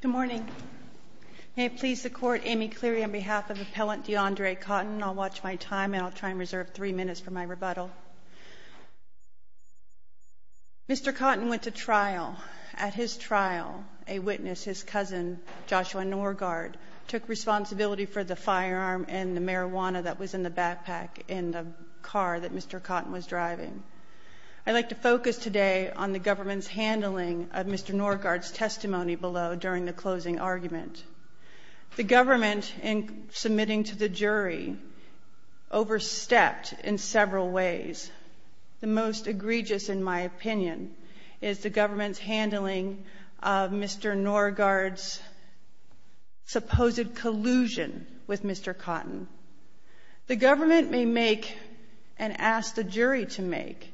Good morning. May it please the Court, Amy Cleary on behalf of Appellant Deandre Cotton. I'll watch my time and I'll try and reserve three minutes for my rebuttal. Mr. Cotton went to trial. At his trial, a witness, his cousin, Joshua Norgaard, took responsibility for the firearm and the marijuana that was in the backpack in the car that Mr. Cotton was driving. I'd like to focus today on the government's handling of Mr. Norgaard's testimony below during the closing argument. The government, in submitting to the jury, overstepped in several ways. The most egregious, in my opinion, is the government's handling of Mr. Norgaard's supposed collusion with Mr. Cotton. The government may make and ask the jury to make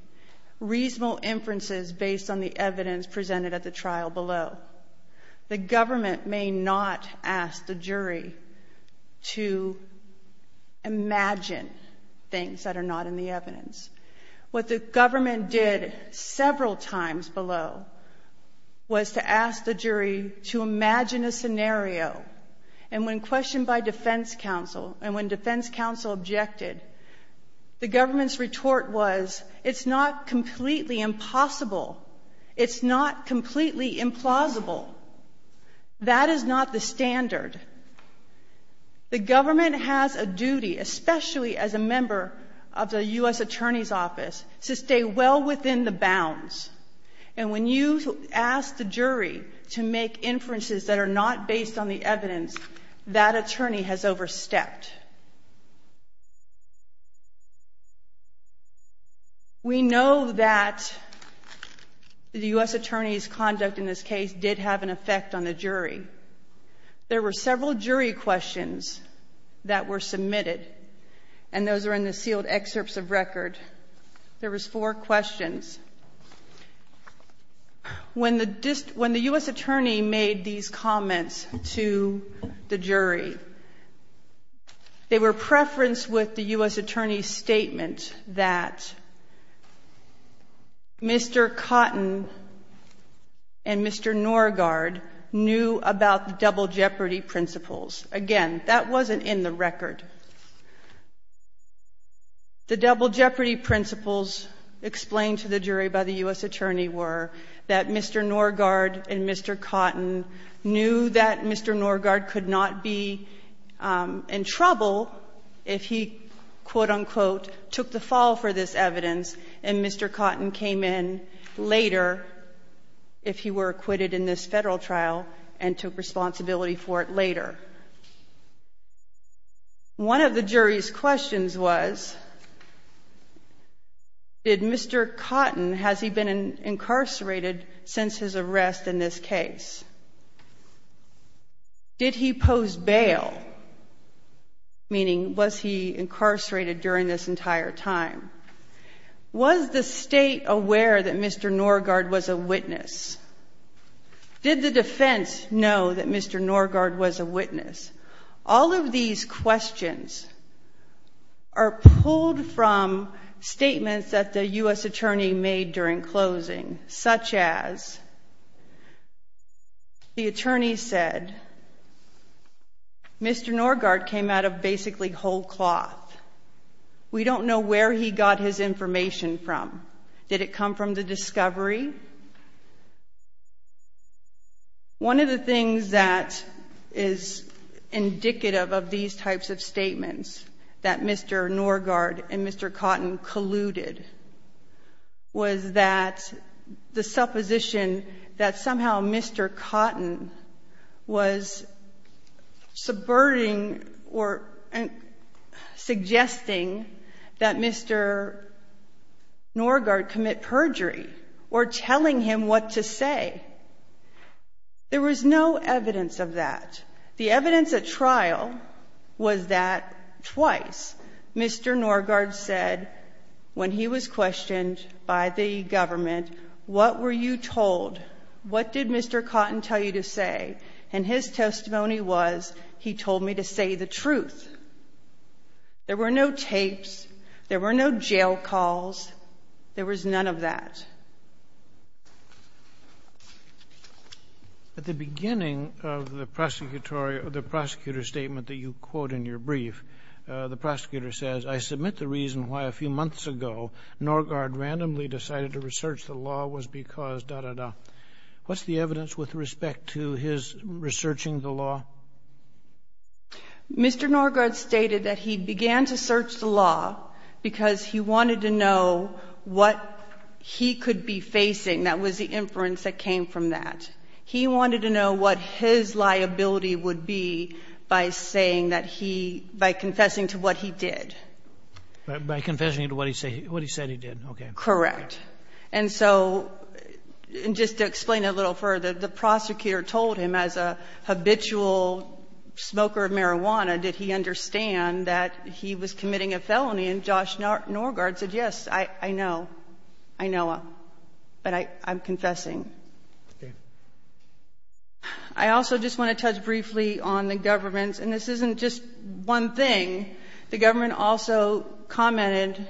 reasonable inferences based on the evidence presented at the trial below. The government may not ask the jury to imagine things that are not in the evidence. What the government did several times below was to ask the jury to imagine a scenario. And when questioned by defense counsel and when defense counsel objected, the government's retort was, it's not completely impossible. It's not completely implausible. That is not the standard. The government has a duty, especially as a member of the U.S. Attorney's Office, to stay well within the bounds. And when you ask the jury to make inferences that are not based on the evidence, that attorney has overstepped. We know that the U.S. Attorney's conduct in this case did have an effect on the jury. There were several jury questions that were submitted, and those are in the sealed excerpts of record. There was four questions. When the U.S. Attorney made these comments to the jury, they were preferenced with the U.S. Attorney's statement that Mr. Cotton and Mr. Norgaard knew about the double jeopardy principles. Again, that wasn't in the record. The double jeopardy principles explained to the jury by the U.S. Attorney were that Mr. Norgaard and Mr. Cotton knew that Mr. Norgaard could not be in trouble if he, quote, unquote, took the fall for this evidence, and Mr. Cotton came in later if he were acquitted in this federal trial and took responsibility for it later. One of the jury's questions was, did Mr. Cotton, has he been incarcerated since his arrest in this case? Did he pose bail, meaning was he incarcerated during this entire time? Was the state aware that Mr. Norgaard was a witness? Did the defense know that Mr. Norgaard was a witness? All of these questions are pulled from statements that the U.S. Attorney made during closing, such as the attorney said, Mr. Norgaard came out of basically whole cloth. We don't know where he got his information from. Did it come from the discovery? One of the things that is indicative of these types of statements that Mr. Norgaard and Mr. Cotton colluded was that the supposition that somehow Mr. Cotton was subverting or suggesting that Mr. Norgaard commit perjury or telling him what to say. There was no evidence of that. The evidence at trial was that twice. Mr. Norgaard said when he was questioned by the government, what were you told? What did Mr. Cotton tell you to say? And his testimony was, he told me to say the truth. There were no tapes. There were no jail calls. There was none of that. At the beginning of the prosecutor's statement that you quote in your brief, the prosecutor says, I submit the reason why a few months ago Norgaard randomly decided to research the law was because da, da, da. What's the evidence with respect to his researching the law? Mr. Norgaard stated that he began to search the law because he wanted to know what he could be facing. That was the inference that came from that. He wanted to know what his liability would be by saying that he, by confessing to what he did. By confessing to what he said he did. Correct. And so, just to explain a little further, the prosecutor told him as a habitual smoker of marijuana, did he understand that he was committing a felony? And Josh Norgaard said, yes, I know. I know him. But I'm confessing. I also just want to touch briefly on the government. And this isn't just one thing. The government also commented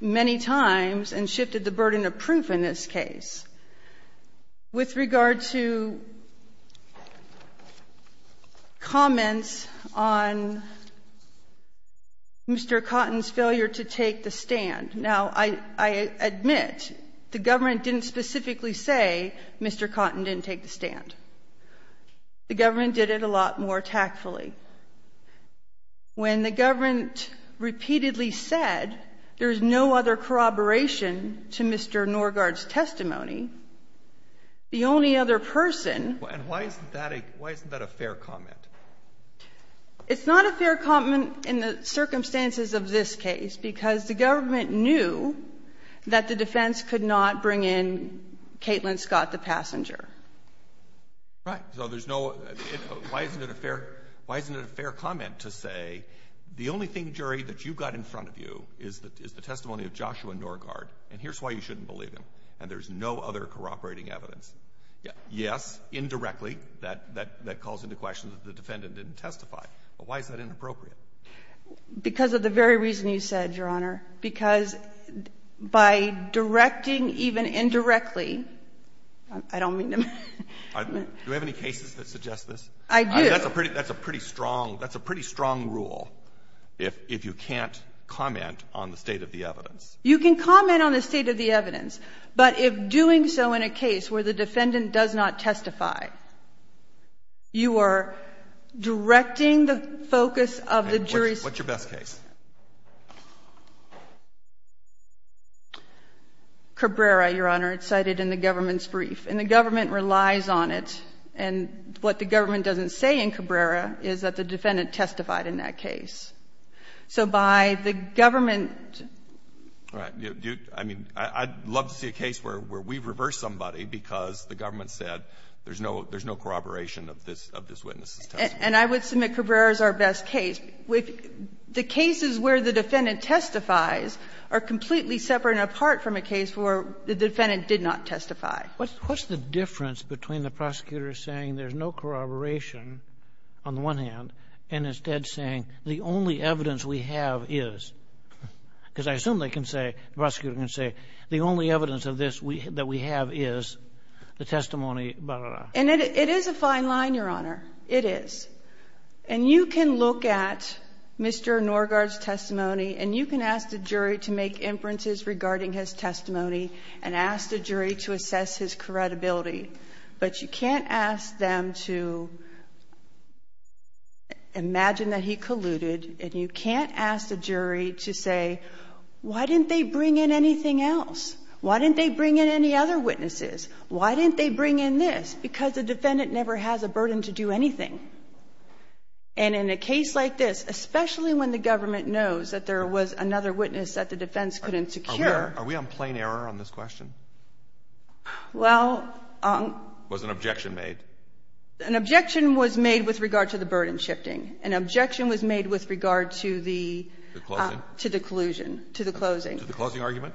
many times and shifted the burden of proof in this case. With regard to comments on Mr. Cotton's failure to take the stand. Now, I admit, the government didn't specifically say Mr. Cotton didn't take the stand. The government did it a lot more tactfully. When the government repeatedly said there's no other corroboration to Mr. Norgaard's testimony, the only other person. And why isn't that a fair comment? It's not a fair comment in the circumstances of this case. Because the government knew that the defense could not bring in Caitlin Scott, the passenger. Right. So there's no, why isn't it a fair comment to say, the only thing, jury, that you've got in front of you is the testimony of Joshua Norgaard. And here's why you shouldn't believe him. And there's no other corroborating evidence. Yes, indirectly, that calls into question that the defendant didn't testify. But why is that inappropriate? Because of the very reason you said, Your Honor. Because by directing even indirectly, I don't mean to. Do we have any cases that suggest this? I do. That's a pretty strong rule if you can't comment on the state of the evidence. You can comment on the state of the evidence. But if doing so in a case where the defendant does not testify, you are directing the focus of the jury. What's your best case? Cabrera, Your Honor. It's cited in the government's brief. And the government relies on it. And what the government doesn't say in Cabrera is that the defendant testified in that case. So by the government. All right. I mean, I'd love to see a case where we reverse somebody because the government said there's no corroboration of this witness's testimony. And I would submit Cabrera is our best case. The cases where the defendant testifies are completely separate and apart from a case where the defendant did not testify. What's the difference between the prosecutor saying there's no corroboration on the one hand and instead saying the only evidence we have is? Because I assume they can say, the prosecutor can say, the only evidence of this that we have is the testimony, blah, blah, blah. And it is a fine line, Your Honor. It is. And you can look at Mr. Norgaard's testimony and you can ask the jury to make inferences regarding his testimony and ask the jury to assess his credibility. But you can't ask them to imagine that he colluded and you can't ask the jury to say, why didn't they bring in anything else? Why didn't they bring in any other witnesses? Why didn't they bring in this? Because the defendant never has a burden to do anything. And in a case like this, especially when the government knows that there was another witness that the defense couldn't secure. Are we on plain error on this question? Well. Was an objection made? An objection was made with regard to the burden shifting. An objection was made with regard to the collusion, to the closing. To the closing argument?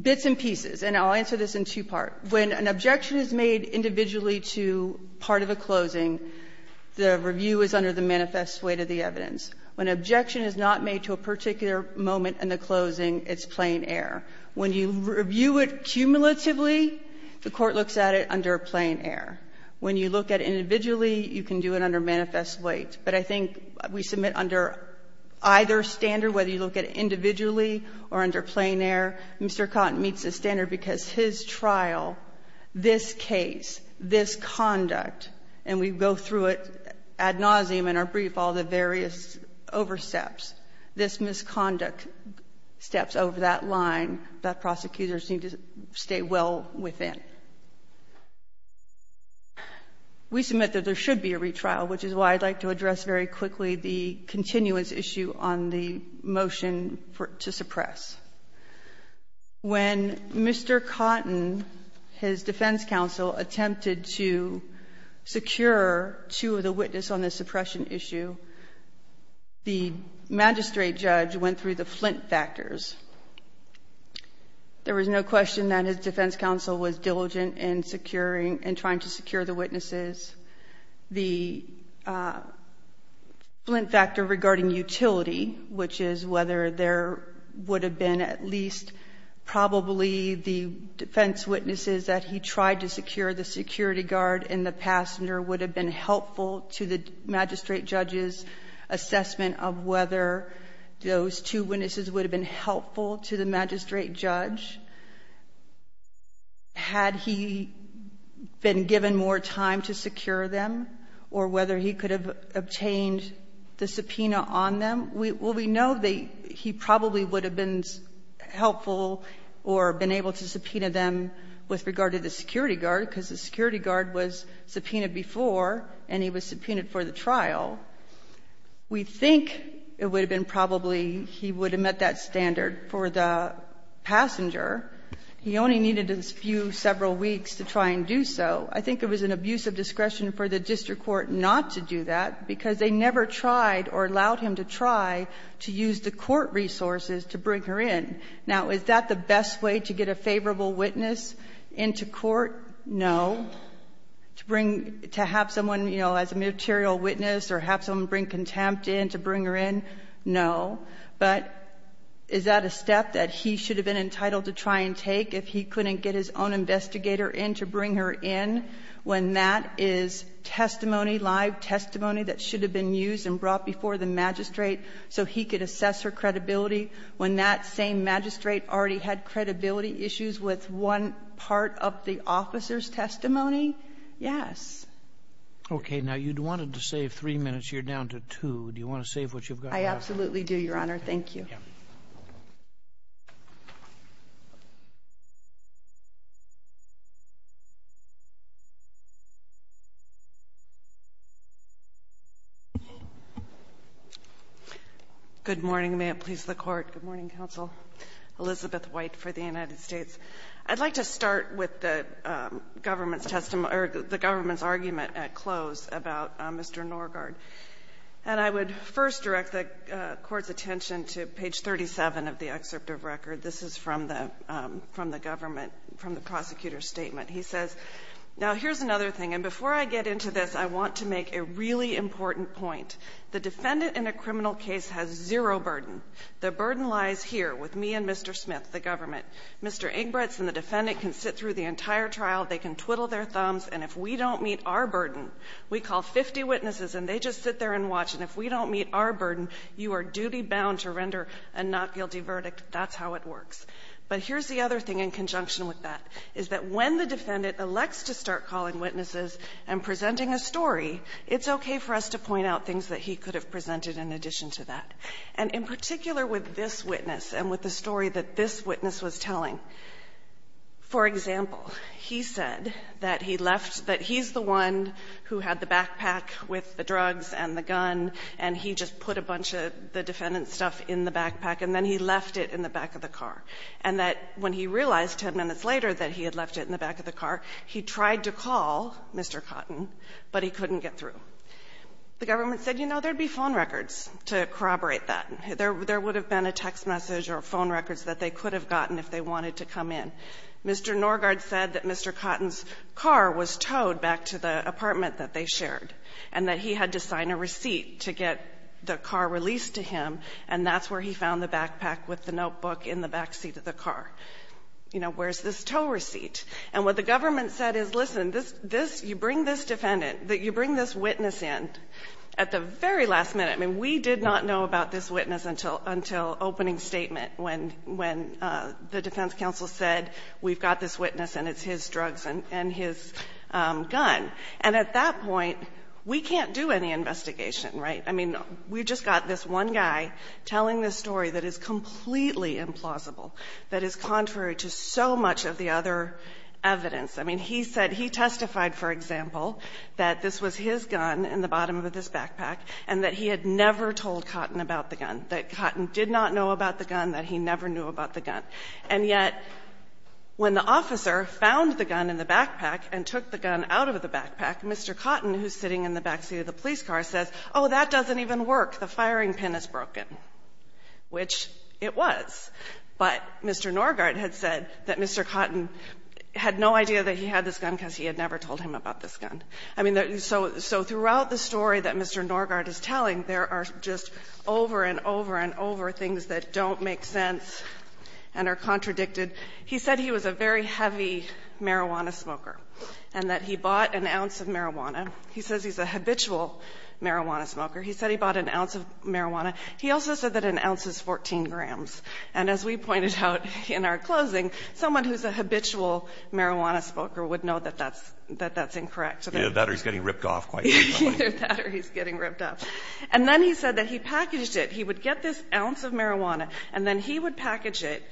Bits and pieces. And I'll answer this in two parts. When an objection is made individually to part of a closing, the review is under the manifest weight of the evidence. When an objection is not made to a particular moment in the closing, it's plain error. When you review it cumulatively, the court looks at it under plain error. When you look at it individually, you can do it under manifest weight. But I think we submit under either standard, whether you look at it individually or under plain error, Mr. Cotton meets the standard because his trial, this case, this misconduct, and we go through it ad nauseum in our brief, all the various oversteps, this misconduct steps over that line that prosecutors seem to stay well within. We submit that there should be a retrial, which is why I'd like to address very quickly the continuous issue on the motion to suppress. When Mr. Cotton, his defense counsel, attempted to secure two of the witnesses on the suppression issue, the magistrate judge went through the Flint factors. There was no question that his defense counsel was diligent in securing and trying to secure the witnesses. The Flint factor regarding utility, which is whether there would have been at least probably the defense witnesses that he tried to secure, the security guard and the passenger, would have been helpful to the magistrate judge's assessment of whether those two witnesses would have been helpful to the magistrate judge. Had he been given more time to secure them or whether he could have obtained the subpoena on them, we know that he probably would have been helpful or been able to subpoena them with regard to the security guard, because the security guard was subpoenaed before and he was subpoenaed for the trial. We think it would have been probably he would have met that standard for the passenger driver. He only needed a few, several weeks to try and do so. I think it was an abuse of discretion for the district court not to do that because they never tried or allowed him to try to use the court resources to bring her in. Now, is that the best way to get a favorable witness into court? No. To bring, to have someone, you know, as a material witness or have someone bring contempt in to bring her in? No. But is that a step that he should have been entitled to try and take if he couldn't get his own investigator in to bring her in when that is testimony, live testimony that should have been used and brought before the magistrate so he could assess her credibility when that same magistrate already had credibility issues with one part of the officer's testimony? Yes. Okay. Now, you wanted to save three minutes. You're down to two. Do you want to save what you've got left? I absolutely do, Your Honor. Thank you. Yeah. Good morning. May it please the Court. Good morning, Counsel. Elizabeth White for the United States. I'd like to start with the government's argument at close about Mr. Norgaard. And I would first direct the Court's attention to page 37 of the excerpt of record. This is from the government, from the prosecutor's statement. He says, now, here's another thing. And before I get into this, I want to make a really important point. The defendant in a criminal case has zero burden. The burden lies here with me and Mr. Smith, the government. Mr. Ingratz and the defendant can sit through the entire trial. They can twiddle their thumbs. And if we don't meet our burden, we call 50 witnesses and they just sit there and watch. And if we don't meet our burden, you are duty-bound to render a not guilty verdict. That's how it works. But here's the other thing in conjunction with that, is that when the defendant elects to start calling witnesses and presenting a story, it's okay for us to point out things that he could have presented in addition to that. And in particular with this witness and with the story that this witness was telling. For example, he said that he left, that he's the one who had the backpack with the drugs and the gun, and he just put a bunch of the defendant's stuff in the backpack and then he left it in the back of the car. And that when he realized 10 minutes later that he had left it in the back of the car, he tried to call Mr. Cotton, but he couldn't get through. The government said, you know, there would be phone records to corroborate that. There would have been a text message or phone records that they could have gotten if they wanted to come in. Mr. Norgard said that Mr. Cotton's car was towed back to the apartment that they shared, and that he had to sign a receipt to get the car released to him, and that's where he found the backpack with the notebook in the backseat of the car. You know, where's this tow receipt? And what the government said is, listen, you bring this witness in at the very last minute. I mean, we did not know about this witness until opening statement when the defense counsel said, we've got this witness and it's his drugs and his gun. And at that point, we can't do any investigation, right? I mean, we've just got this one guy telling this story that is completely implausible, that is contrary to so much of the other evidence. I mean, he said he testified, for example, that this was his gun in the bottom of his backpack and that he had never told Cotton about the gun, that Cotton did not know about the gun, that he never knew about the gun. And yet, when the officer found the gun in the backpack and took the gun out of the backpack, Mr. Cotton, who's sitting in the backseat of the police car, says, oh, that doesn't even work. The firing pin is broken, which it was. But Mr. Norgard had said that Mr. Cotton had no idea that he had this gun because he had never told him about this gun. I mean, so throughout the story that Mr. Norgard is telling, there are just over and over and over things that don't make sense and are contradicted. He said he was a very heavy marijuana smoker and that he bought an ounce of marijuana. He says he's a habitual marijuana smoker. He said he bought an ounce of marijuana. He also said that an ounce is 14 grams. And as we pointed out in our closing, someone who's a habitual marijuana smoker would know that that's incorrect. Either that or he's getting ripped off quite a bit. Either that or he's getting ripped off. And then he said that he packaged it. He would get this ounce of marijuana, and then he would package it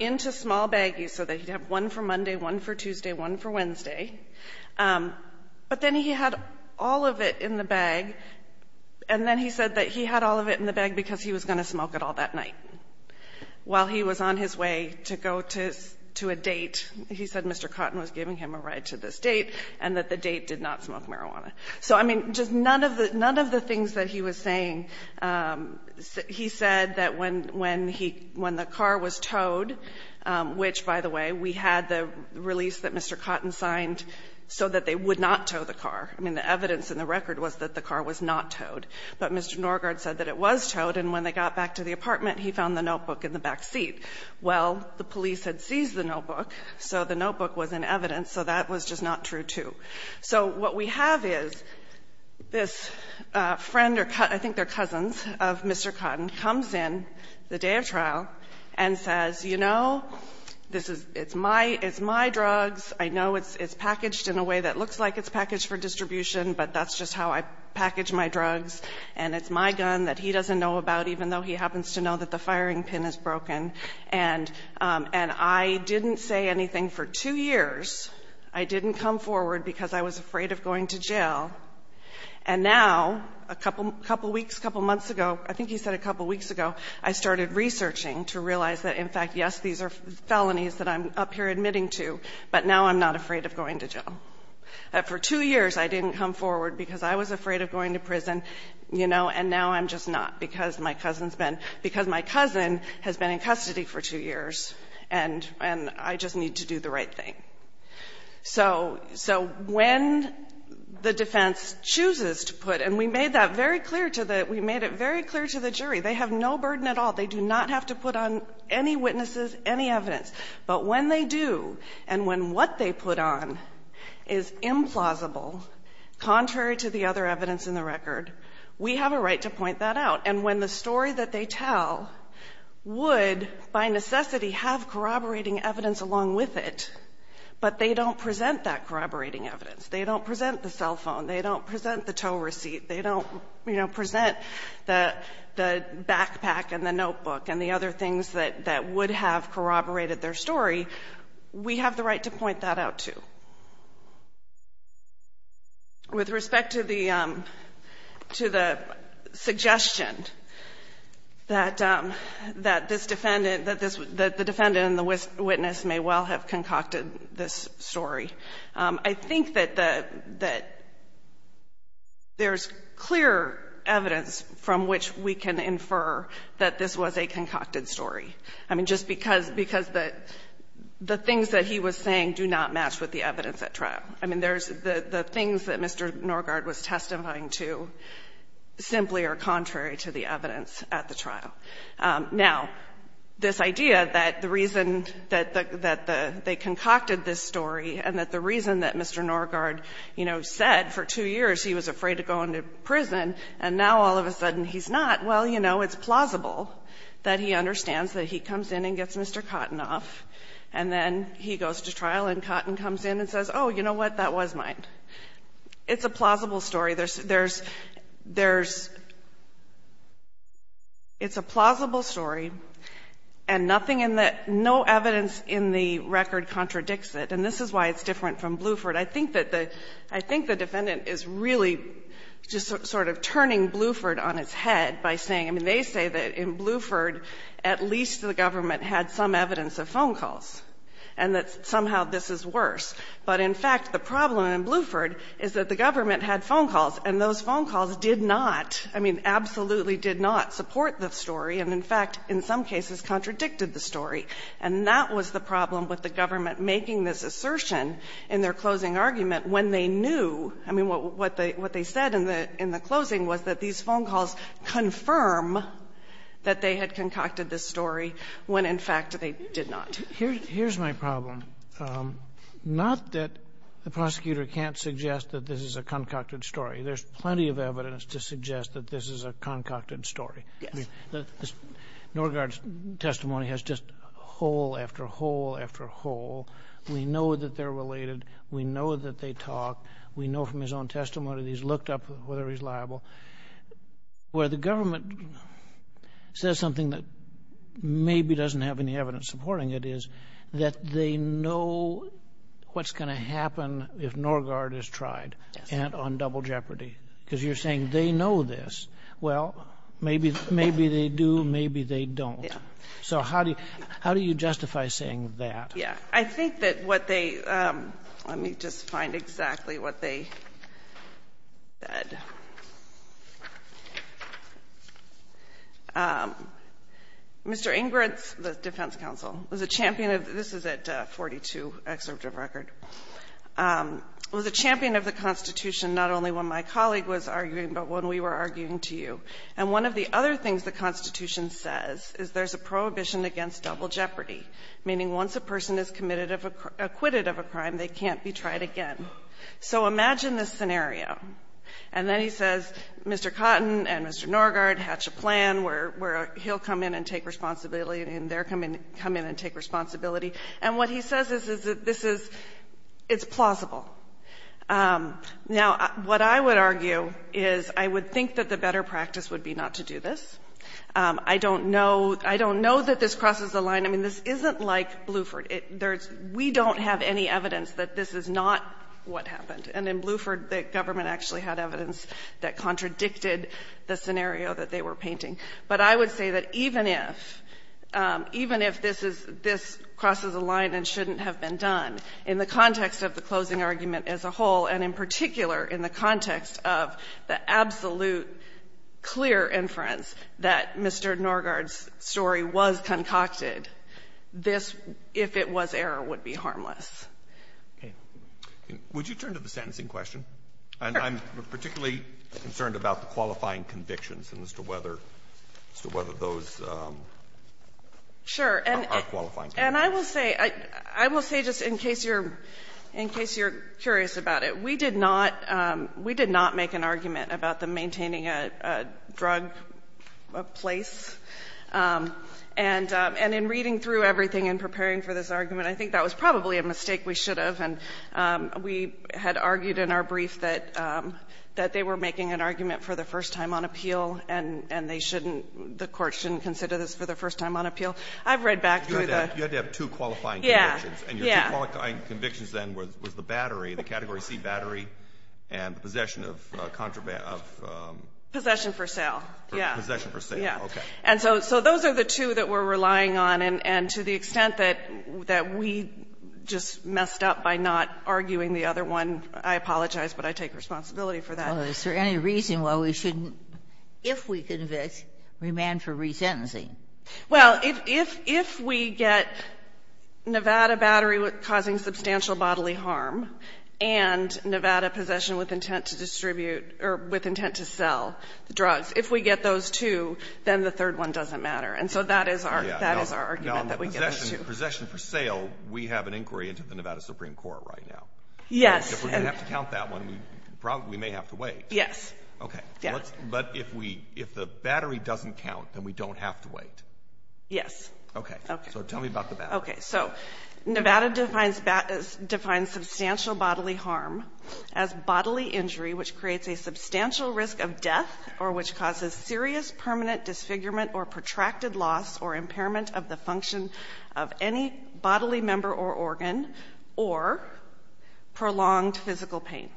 into small baggies so that he'd have one for Monday, one for Tuesday, one for Wednesday. But then he had all of it in the bag, and then he said that he had all of it in the bag because he was going to smoke it all that night while he was on his way to go to a date. He said Mr. Cotton was giving him a ride to this date and that the date did not smoke marijuana. So, I mean, just none of the things that he was saying. He said that when the car was towed, which, by the way, we had the release that Mr. Cotton signed so that they would not tow the car. I mean, the evidence in the record was that the car was not towed. But Mr. Norgaard said that it was towed, and when they got back to the apartment, he found the notebook in the back seat. Well, the police had seized the notebook, so the notebook was in evidence. So that was just not true, too. So what we have is this friend, or I think they're cousins of Mr. Cotton, comes in the day of trial and says, you know, it's my drugs. I know it's packaged in a way that looks like it's packaged for distribution, but that's just how I package my drugs, and it's my gun that he doesn't know about, even though he happens to know that the firing pin is broken. And I didn't say anything for two years. I didn't come forward because I was afraid of going to jail. And now, a couple weeks, a couple months ago, I think he said a couple weeks ago, I started researching to realize that, in fact, yes, these are felonies that I'm up here admitting to, but now I'm not afraid of going to jail. For two years, I didn't come forward because I was afraid of going to prison, you know, and now I'm just not because my cousin has been in custody for two years and I just need to do the right thing. So when the defense chooses to put, and we made that very clear to the jury, they have no burden at all. They do not have to put on any witnesses, any evidence. But when they do, and when what they put on is implausible, contrary to the other evidence in the record, we have a right to point that out. And when the story that they tell would, by necessity, have corroborating evidence along with it, but they don't present that corroborating evidence, they don't present the cell phone, they don't present the tow receipt, they don't, you know, present the backpack and the notebook and the other things that would have corroborated their story, we have the right to point that out too. With respect to the suggestion that the defendant and the witness may well have concocted this story, I think that there's clear evidence from which we can infer that this was a concocted story. I mean, just because the things that he was saying do not match with the evidence at trial. I mean, the things that Mr. Norgaard was testifying to simply are contrary to the evidence at the trial. Now, this idea that the reason that they concocted this story and that the reason that Mr. Norgaard, you know, said for two years he was afraid to go into prison and now all of a sudden he's not, well, you know, it's plausible that he understands that he comes in and gets Mr. Cotton off and then he goes to trial and Cotton comes in and says, oh, you know what, that was mine. It's a plausible story. There's, there's, it's a plausible story and nothing in the, no evidence in the record contradicts it. And this is why it's different from Bluford. I think that the, I think the defendant is really just sort of turning Bluford on its head by saying, I mean, they say that in Bluford at least the government had some evidence of phone calls and that somehow this is worse. But, in fact, the problem in Bluford is that the government had phone calls and those phone calls did not, I mean, absolutely did not support the story and, in fact, in some cases contradicted the story. And that was the problem with the government making this assertion in their closing argument when they knew, I mean, what they said in the closing was that these phone calls confirm that they had concocted this story when, in fact, they did not. Here's my problem. Not that the prosecutor can't suggest that this is a concocted story. There's plenty of evidence to suggest that this is a concocted story. Yes. Norgaard's testimony has just hole after hole after hole. We know that they're related. We know that they talk. We know from his own testimony that he's looked up whether he's liable. Where the government says something that maybe doesn't have any evidence supporting it is that they know what's going to happen if Norgaard is tried on double jeopardy. Because you're saying they know this. Well, maybe they do, maybe they don't. Yeah. So how do you justify saying that? Yeah. I think that what they, let me just find exactly what they said. Mr. Ingrid's, the defense counsel, was a champion of, this is at 42, excerpt of record, was a champion of the Constitution not only when my colleague was arguing but when we were arguing to you. And one of the other things the Constitution says is there's a prohibition against double jeopardy, meaning once a person is committed, acquitted of a crime, they can't be tried again. So imagine this scenario. And then he says, Mr. Cotton and Mr. Norgaard hatch a plan where he'll come in and take responsibility and they'll come in and take responsibility. And what he says is that this is, it's plausible. Now, what I would argue is I would think that the better practice would be not to do this. I don't know, I don't know that this crosses the line. I mean, this isn't like Bluford. There's, we don't have any evidence that this is not what happened. And in Bluford, the government actually had evidence that contradicted the scenario that they were painting. But I would say that even if, even if this is, this crosses a line and shouldn't have been done, in the context of the closing argument as a whole, and in particular in the context of the absolute clear inference that Mr. Norgaard's story was concocted, this, if it was error, would be harmless. Roberts. Would you turn to the sentencing question? And I'm particularly concerned about the qualifying convictions and as to whether those are qualifying convictions. Sure. And I will say, I will say just in case you're, in case you're curious about it, we did not, we did not make an argument about them maintaining a drug place. And in reading through everything and preparing for this argument, I think that was probably a mistake we should have. And we had argued in our brief that, that they were making an argument for the first time on appeal, and they shouldn't, the Court shouldn't consider this for the first time on appeal. I've read back through the — You had to have two qualifying convictions. Yeah. Yeah. And your two qualifying convictions then was the battery, the Category C battery and the possession of contraband of — Possession for sale. Yeah. Possession for sale. Yeah. Okay. And so, so those are the two that we're relying on. And to the extent that, that we just messed up by not arguing the other one, I apologize, but I take responsibility for that. Well, is there any reason why we shouldn't, if we convict, remand for resentencing? Well, if, if, if we get Nevada battery causing substantial bodily harm and Nevada possession with intent to distribute or with intent to sell the drugs, if we get those two, then the third one doesn't matter. And so that is our, that is our argument that we get those two. Now, on possession, possession for sale, we have an inquiry into the Nevada Supreme Court right now. Yes. If we're going to have to count that one, we probably, we may have to wait. Yes. Okay. Yeah. But if we, if the battery doesn't count, then we don't have to wait. Yes. Okay. Okay. So tell me about the battery. Okay. So Nevada defines, defines substantial bodily harm as bodily injury which creates a substantial risk of death or which causes serious permanent disfigurement or protracted loss or impairment of the function of any bodily member or organ or prolonged physical pain.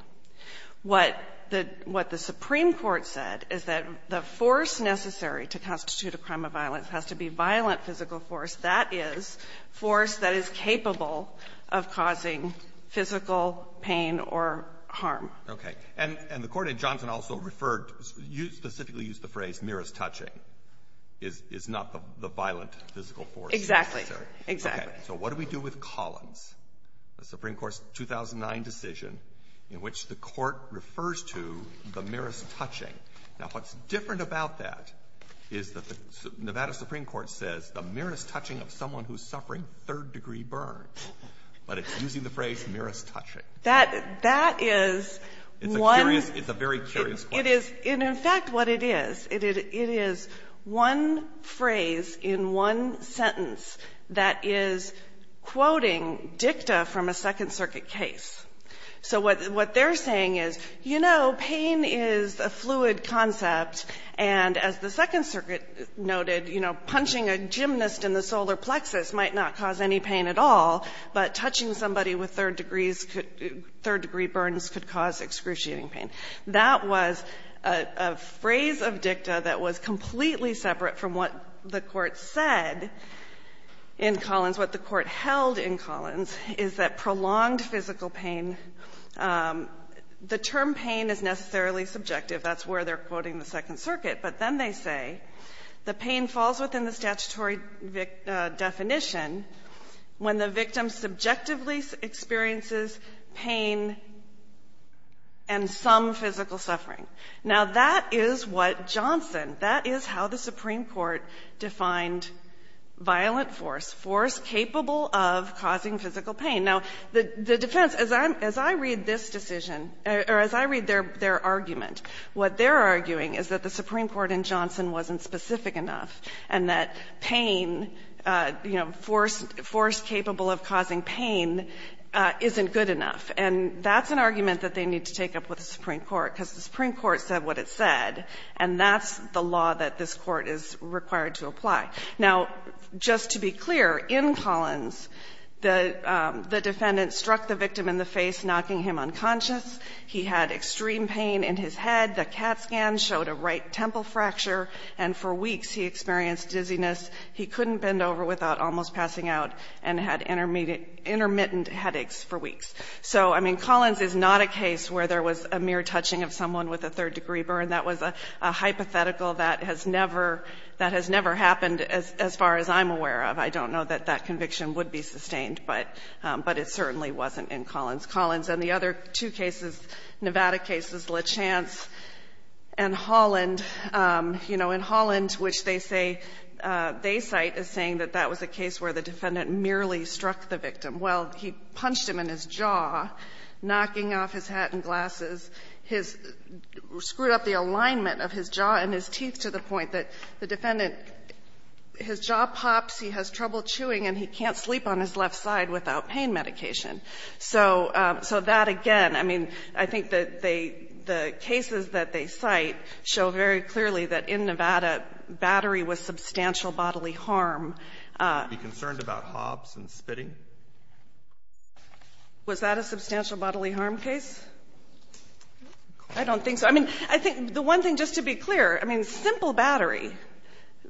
What the, what the Supreme Court said is that the force necessary to constitute a crime of violence has to be violent physical force. That is force that is capable of causing physical pain or harm. Okay. And the Court in Johnson also referred, specifically used the phrase merestouching is not the violent physical force necessary. Exactly. Exactly. Okay. So what do we do with Collins? The Supreme Court's 2009 decision in which the Court refers to the merestouching. Now, what's different about that is that the Nevada Supreme Court says the merestouching of someone who's suffering third-degree burns, but it's using the phrase merestouching. That, that is one. It's a curious, it's a very curious question. It is, and in fact what it is. It is one phrase in one sentence that is quoting dicta from a Second Circuit case. So what, what they're saying is, you know, pain is a fluid concept and as the Second Circuit noted, you know, punching a gymnast in the solar plexus might not cause any pain at all, but touching somebody with third degrees could, third-degree burns could cause excruciating pain. That was a phrase of dicta that was completely separate from what the Court said in Collins. What the Court held in Collins is that prolonged physical pain, the term pain is necessarily subjective. That's where they're quoting the Second Circuit. But then they say the pain falls within the statutory definition when the victim subjectively experiences pain and some physical suffering. Now that is what Johnson, that is how the Supreme Court defined violent force, force capable of causing physical pain. Now the defense, as I read this decision, or as I read their argument, what they're arguing is that the Supreme Court in Johnson wasn't specific enough and that pain, you know, isn't good enough. And that's an argument that they need to take up with the Supreme Court because the Supreme Court said what it said and that's the law that this Court is required to apply. Now, just to be clear, in Collins, the defendant struck the victim in the face, knocking him unconscious. He had extreme pain in his head. The CAT scan showed a right temple fracture and for weeks he experienced dizziness. He couldn't bend over without almost passing out and had intermittent headaches for weeks. So, I mean, Collins is not a case where there was a mere touching of someone with a third degree burn. That was a hypothetical that has never happened as far as I'm aware of. I don't know that that conviction would be sustained, but it certainly wasn't in Collins. And the other two cases, Nevada cases, La Chance and Holland, you know, in Holland, which they say, they cite as saying that that was a case where the defendant merely struck the victim. Well, he punched him in his jaw, knocking off his hat and glasses, his, screwed up the alignment of his jaw and his teeth to the point that the defendant, his jaw pops, he has trouble chewing and he can't sleep on his left side without pain medication. So that, again, I mean, I think that the cases that they cite show very clearly that in Nevada, battery was substantial bodily harm. Would he be concerned about hops and spitting? Was that a substantial bodily harm case? I don't think so. I mean, I think the one thing, just to be clear, I mean, simple battery,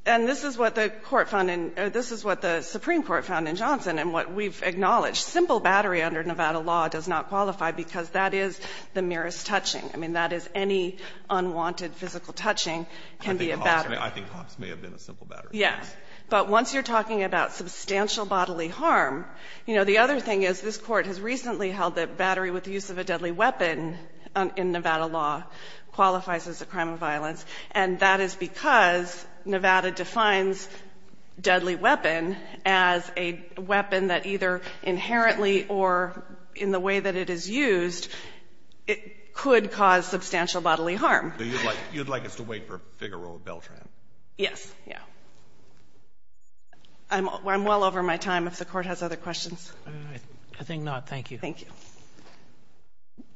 and this is what the Supreme Court found in Johnson and what we've acknowledged. Simple battery under Nevada law does not qualify because that is the merest touching. I mean, that is any unwanted physical touching can be a battery. I think hops may have been a simple battery. Yes. But once you're talking about substantial bodily harm, you know, the other thing is this Court has recently held that battery with the use of a deadly weapon in Nevada law qualifies as a crime of violence, and that is because Nevada defines deadly weapon as a weapon that either inherently or in the way that it is used, it could cause substantial bodily harm. So you'd like us to wait for Figueroa or Beltran? Yes. Yeah. I'm well over my time if the Court has other questions. I think not. Thank you. Thank you.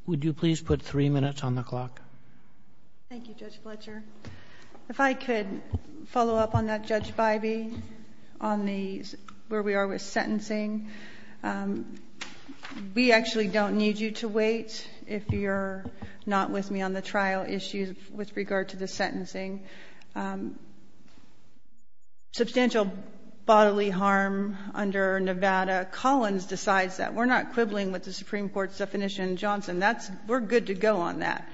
Would you please put three minutes on the clock? Thank you, Judge Fletcher. If I could follow up on that, Judge Bybee, on where we are with sentencing. We actually don't need you to wait if you're not with me on the trial issues with regard to the sentencing. Substantial bodily harm under Nevada, Collins decides that. We're not quibbling with the Supreme Court's definition in Johnson. We're good to go on that.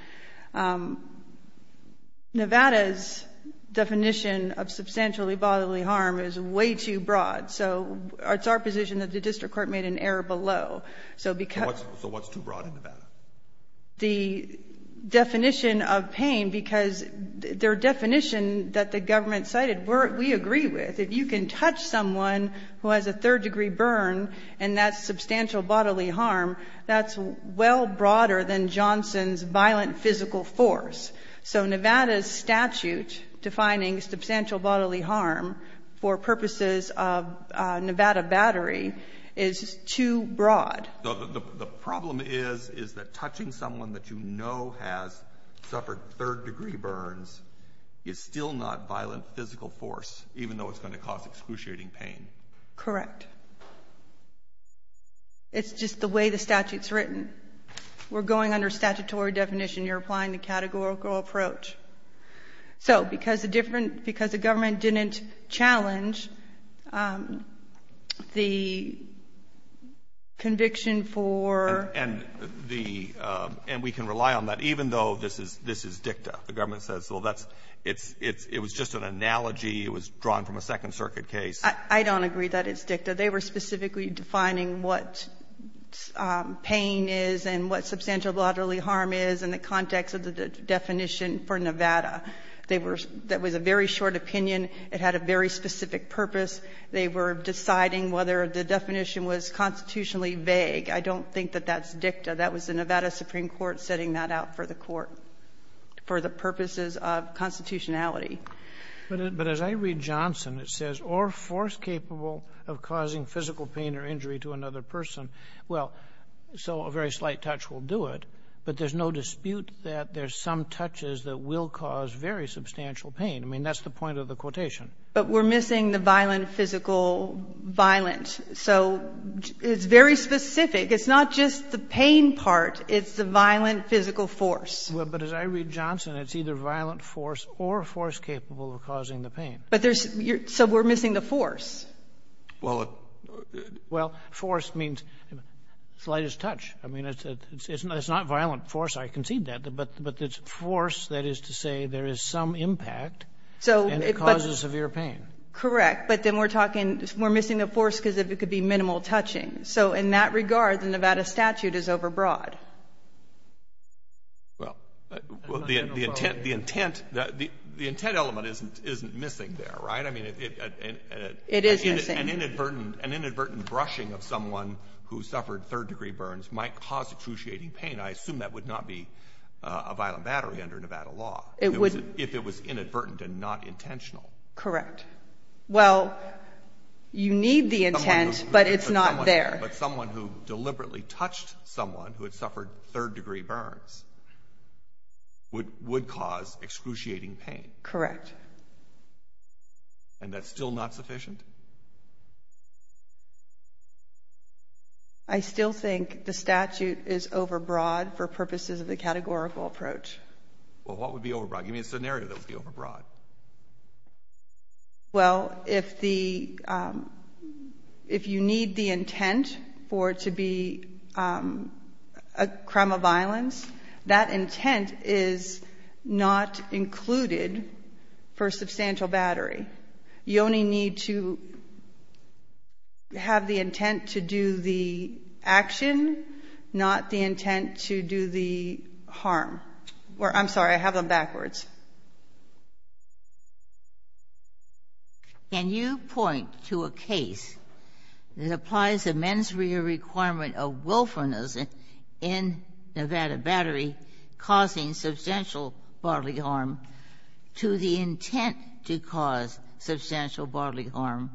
Nevada's definition of substantially bodily harm is way too broad, so it's our position that the District Court made an error below. So what's too broad in Nevada? The definition of pain because their definition that the government cited, we agree with. If you can touch someone who has a third-degree burn and that's substantial bodily harm, that's well broader than Johnson's violent physical force. So Nevada's statute defining substantial bodily harm for purposes of Nevada battery is too broad. The problem is that touching someone that you know has suffered third-degree burns is still not violent physical force, even though it's going to cause excruciating pain. Correct. It's just the way the statute's written. We're going under statutory definition. You're applying the categorical approach. So because the different — because the government didn't challenge the conviction for — And the — and we can rely on that, even though this is dicta. The government says, well, that's — it's — it was just an analogy. It was drawn from a Second Circuit case. I don't agree that it's dicta. They were specifically defining what pain is and what substantial bodily harm is in the context of the definition for Nevada. They were — that was a very short opinion. It had a very specific purpose. They were deciding whether the definition was constitutionally vague. I don't think that that's dicta. That was the Nevada Supreme Court setting that out for the court for the purposes of constitutionality. But as I read Johnson, it says, or force capable of causing physical pain or injury to another person. Well, so a very slight touch will do it, but there's no dispute that there's some touches that will cause very substantial pain. I mean, that's the point of the quotation. But we're missing the violent, physical, violent. So it's very specific. It's not just the pain part. It's the violent, physical force. Well, but as I read Johnson, it's either violent force or force capable of causing the pain. But there's — so we're missing the force. Well, force means slightest touch. I mean, it's not violent force. I concede that. But it's force, that is to say there is some impact and it causes severe pain. Correct. But then we're talking — we're missing the force because it could be minimal touching. So in that regard, the Nevada statute is overbroad. Well, the intent element isn't missing there, right? I mean, an inadvertent brushing of someone who suffered third-degree burns might cause excruciating pain. I assume that would not be a violent battery under Nevada law if it was inadvertent and not intentional. Correct. Well, you need the intent, but it's not there. But someone who deliberately touched someone who had suffered third-degree burns would cause excruciating pain. Correct. And that's still not sufficient? I still think the statute is overbroad for purposes of the categorical approach. Well, what would be overbroad? Give me a scenario that would be overbroad. Well, if you need the intent for it to be a crime of violence, that intent is not included for substantial battery. You only need to have the intent to do the action, not the intent to do the harm. I'm sorry, I have them backwards. Can you point to a case that applies the mens rea requirement of willfulness in Nevada battery causing substantial bodily harm to the intent to cause substantial bodily harm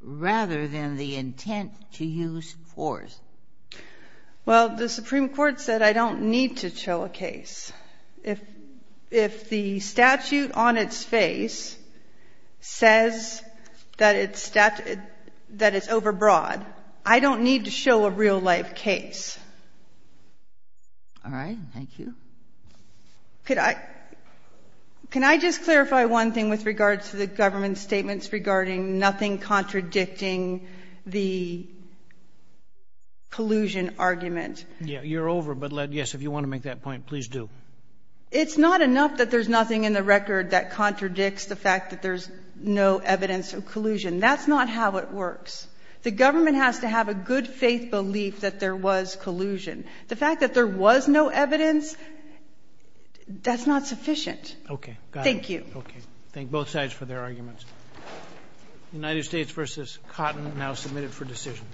rather than the intent to use force? Well, the Supreme Court said I don't need to show a case. If the statute on its face says that it's overbroad, I don't need to show a real-life case. All right. Thank you. Could I just clarify one thing with regard to the government statements regarding nothing contradicting the collusion argument? Yeah, you're over, but, yes, if you want to make that point, please do. It's not enough that there's nothing in the record that contradicts the fact that there's no evidence of collusion. That's not how it works. The government has to have a good-faith belief that there was collusion. The fact that there was no evidence, that's not sufficient. Okay. Thank you. Okay. Thank both sides for their arguments. United States v. Cotton now submitted for decision.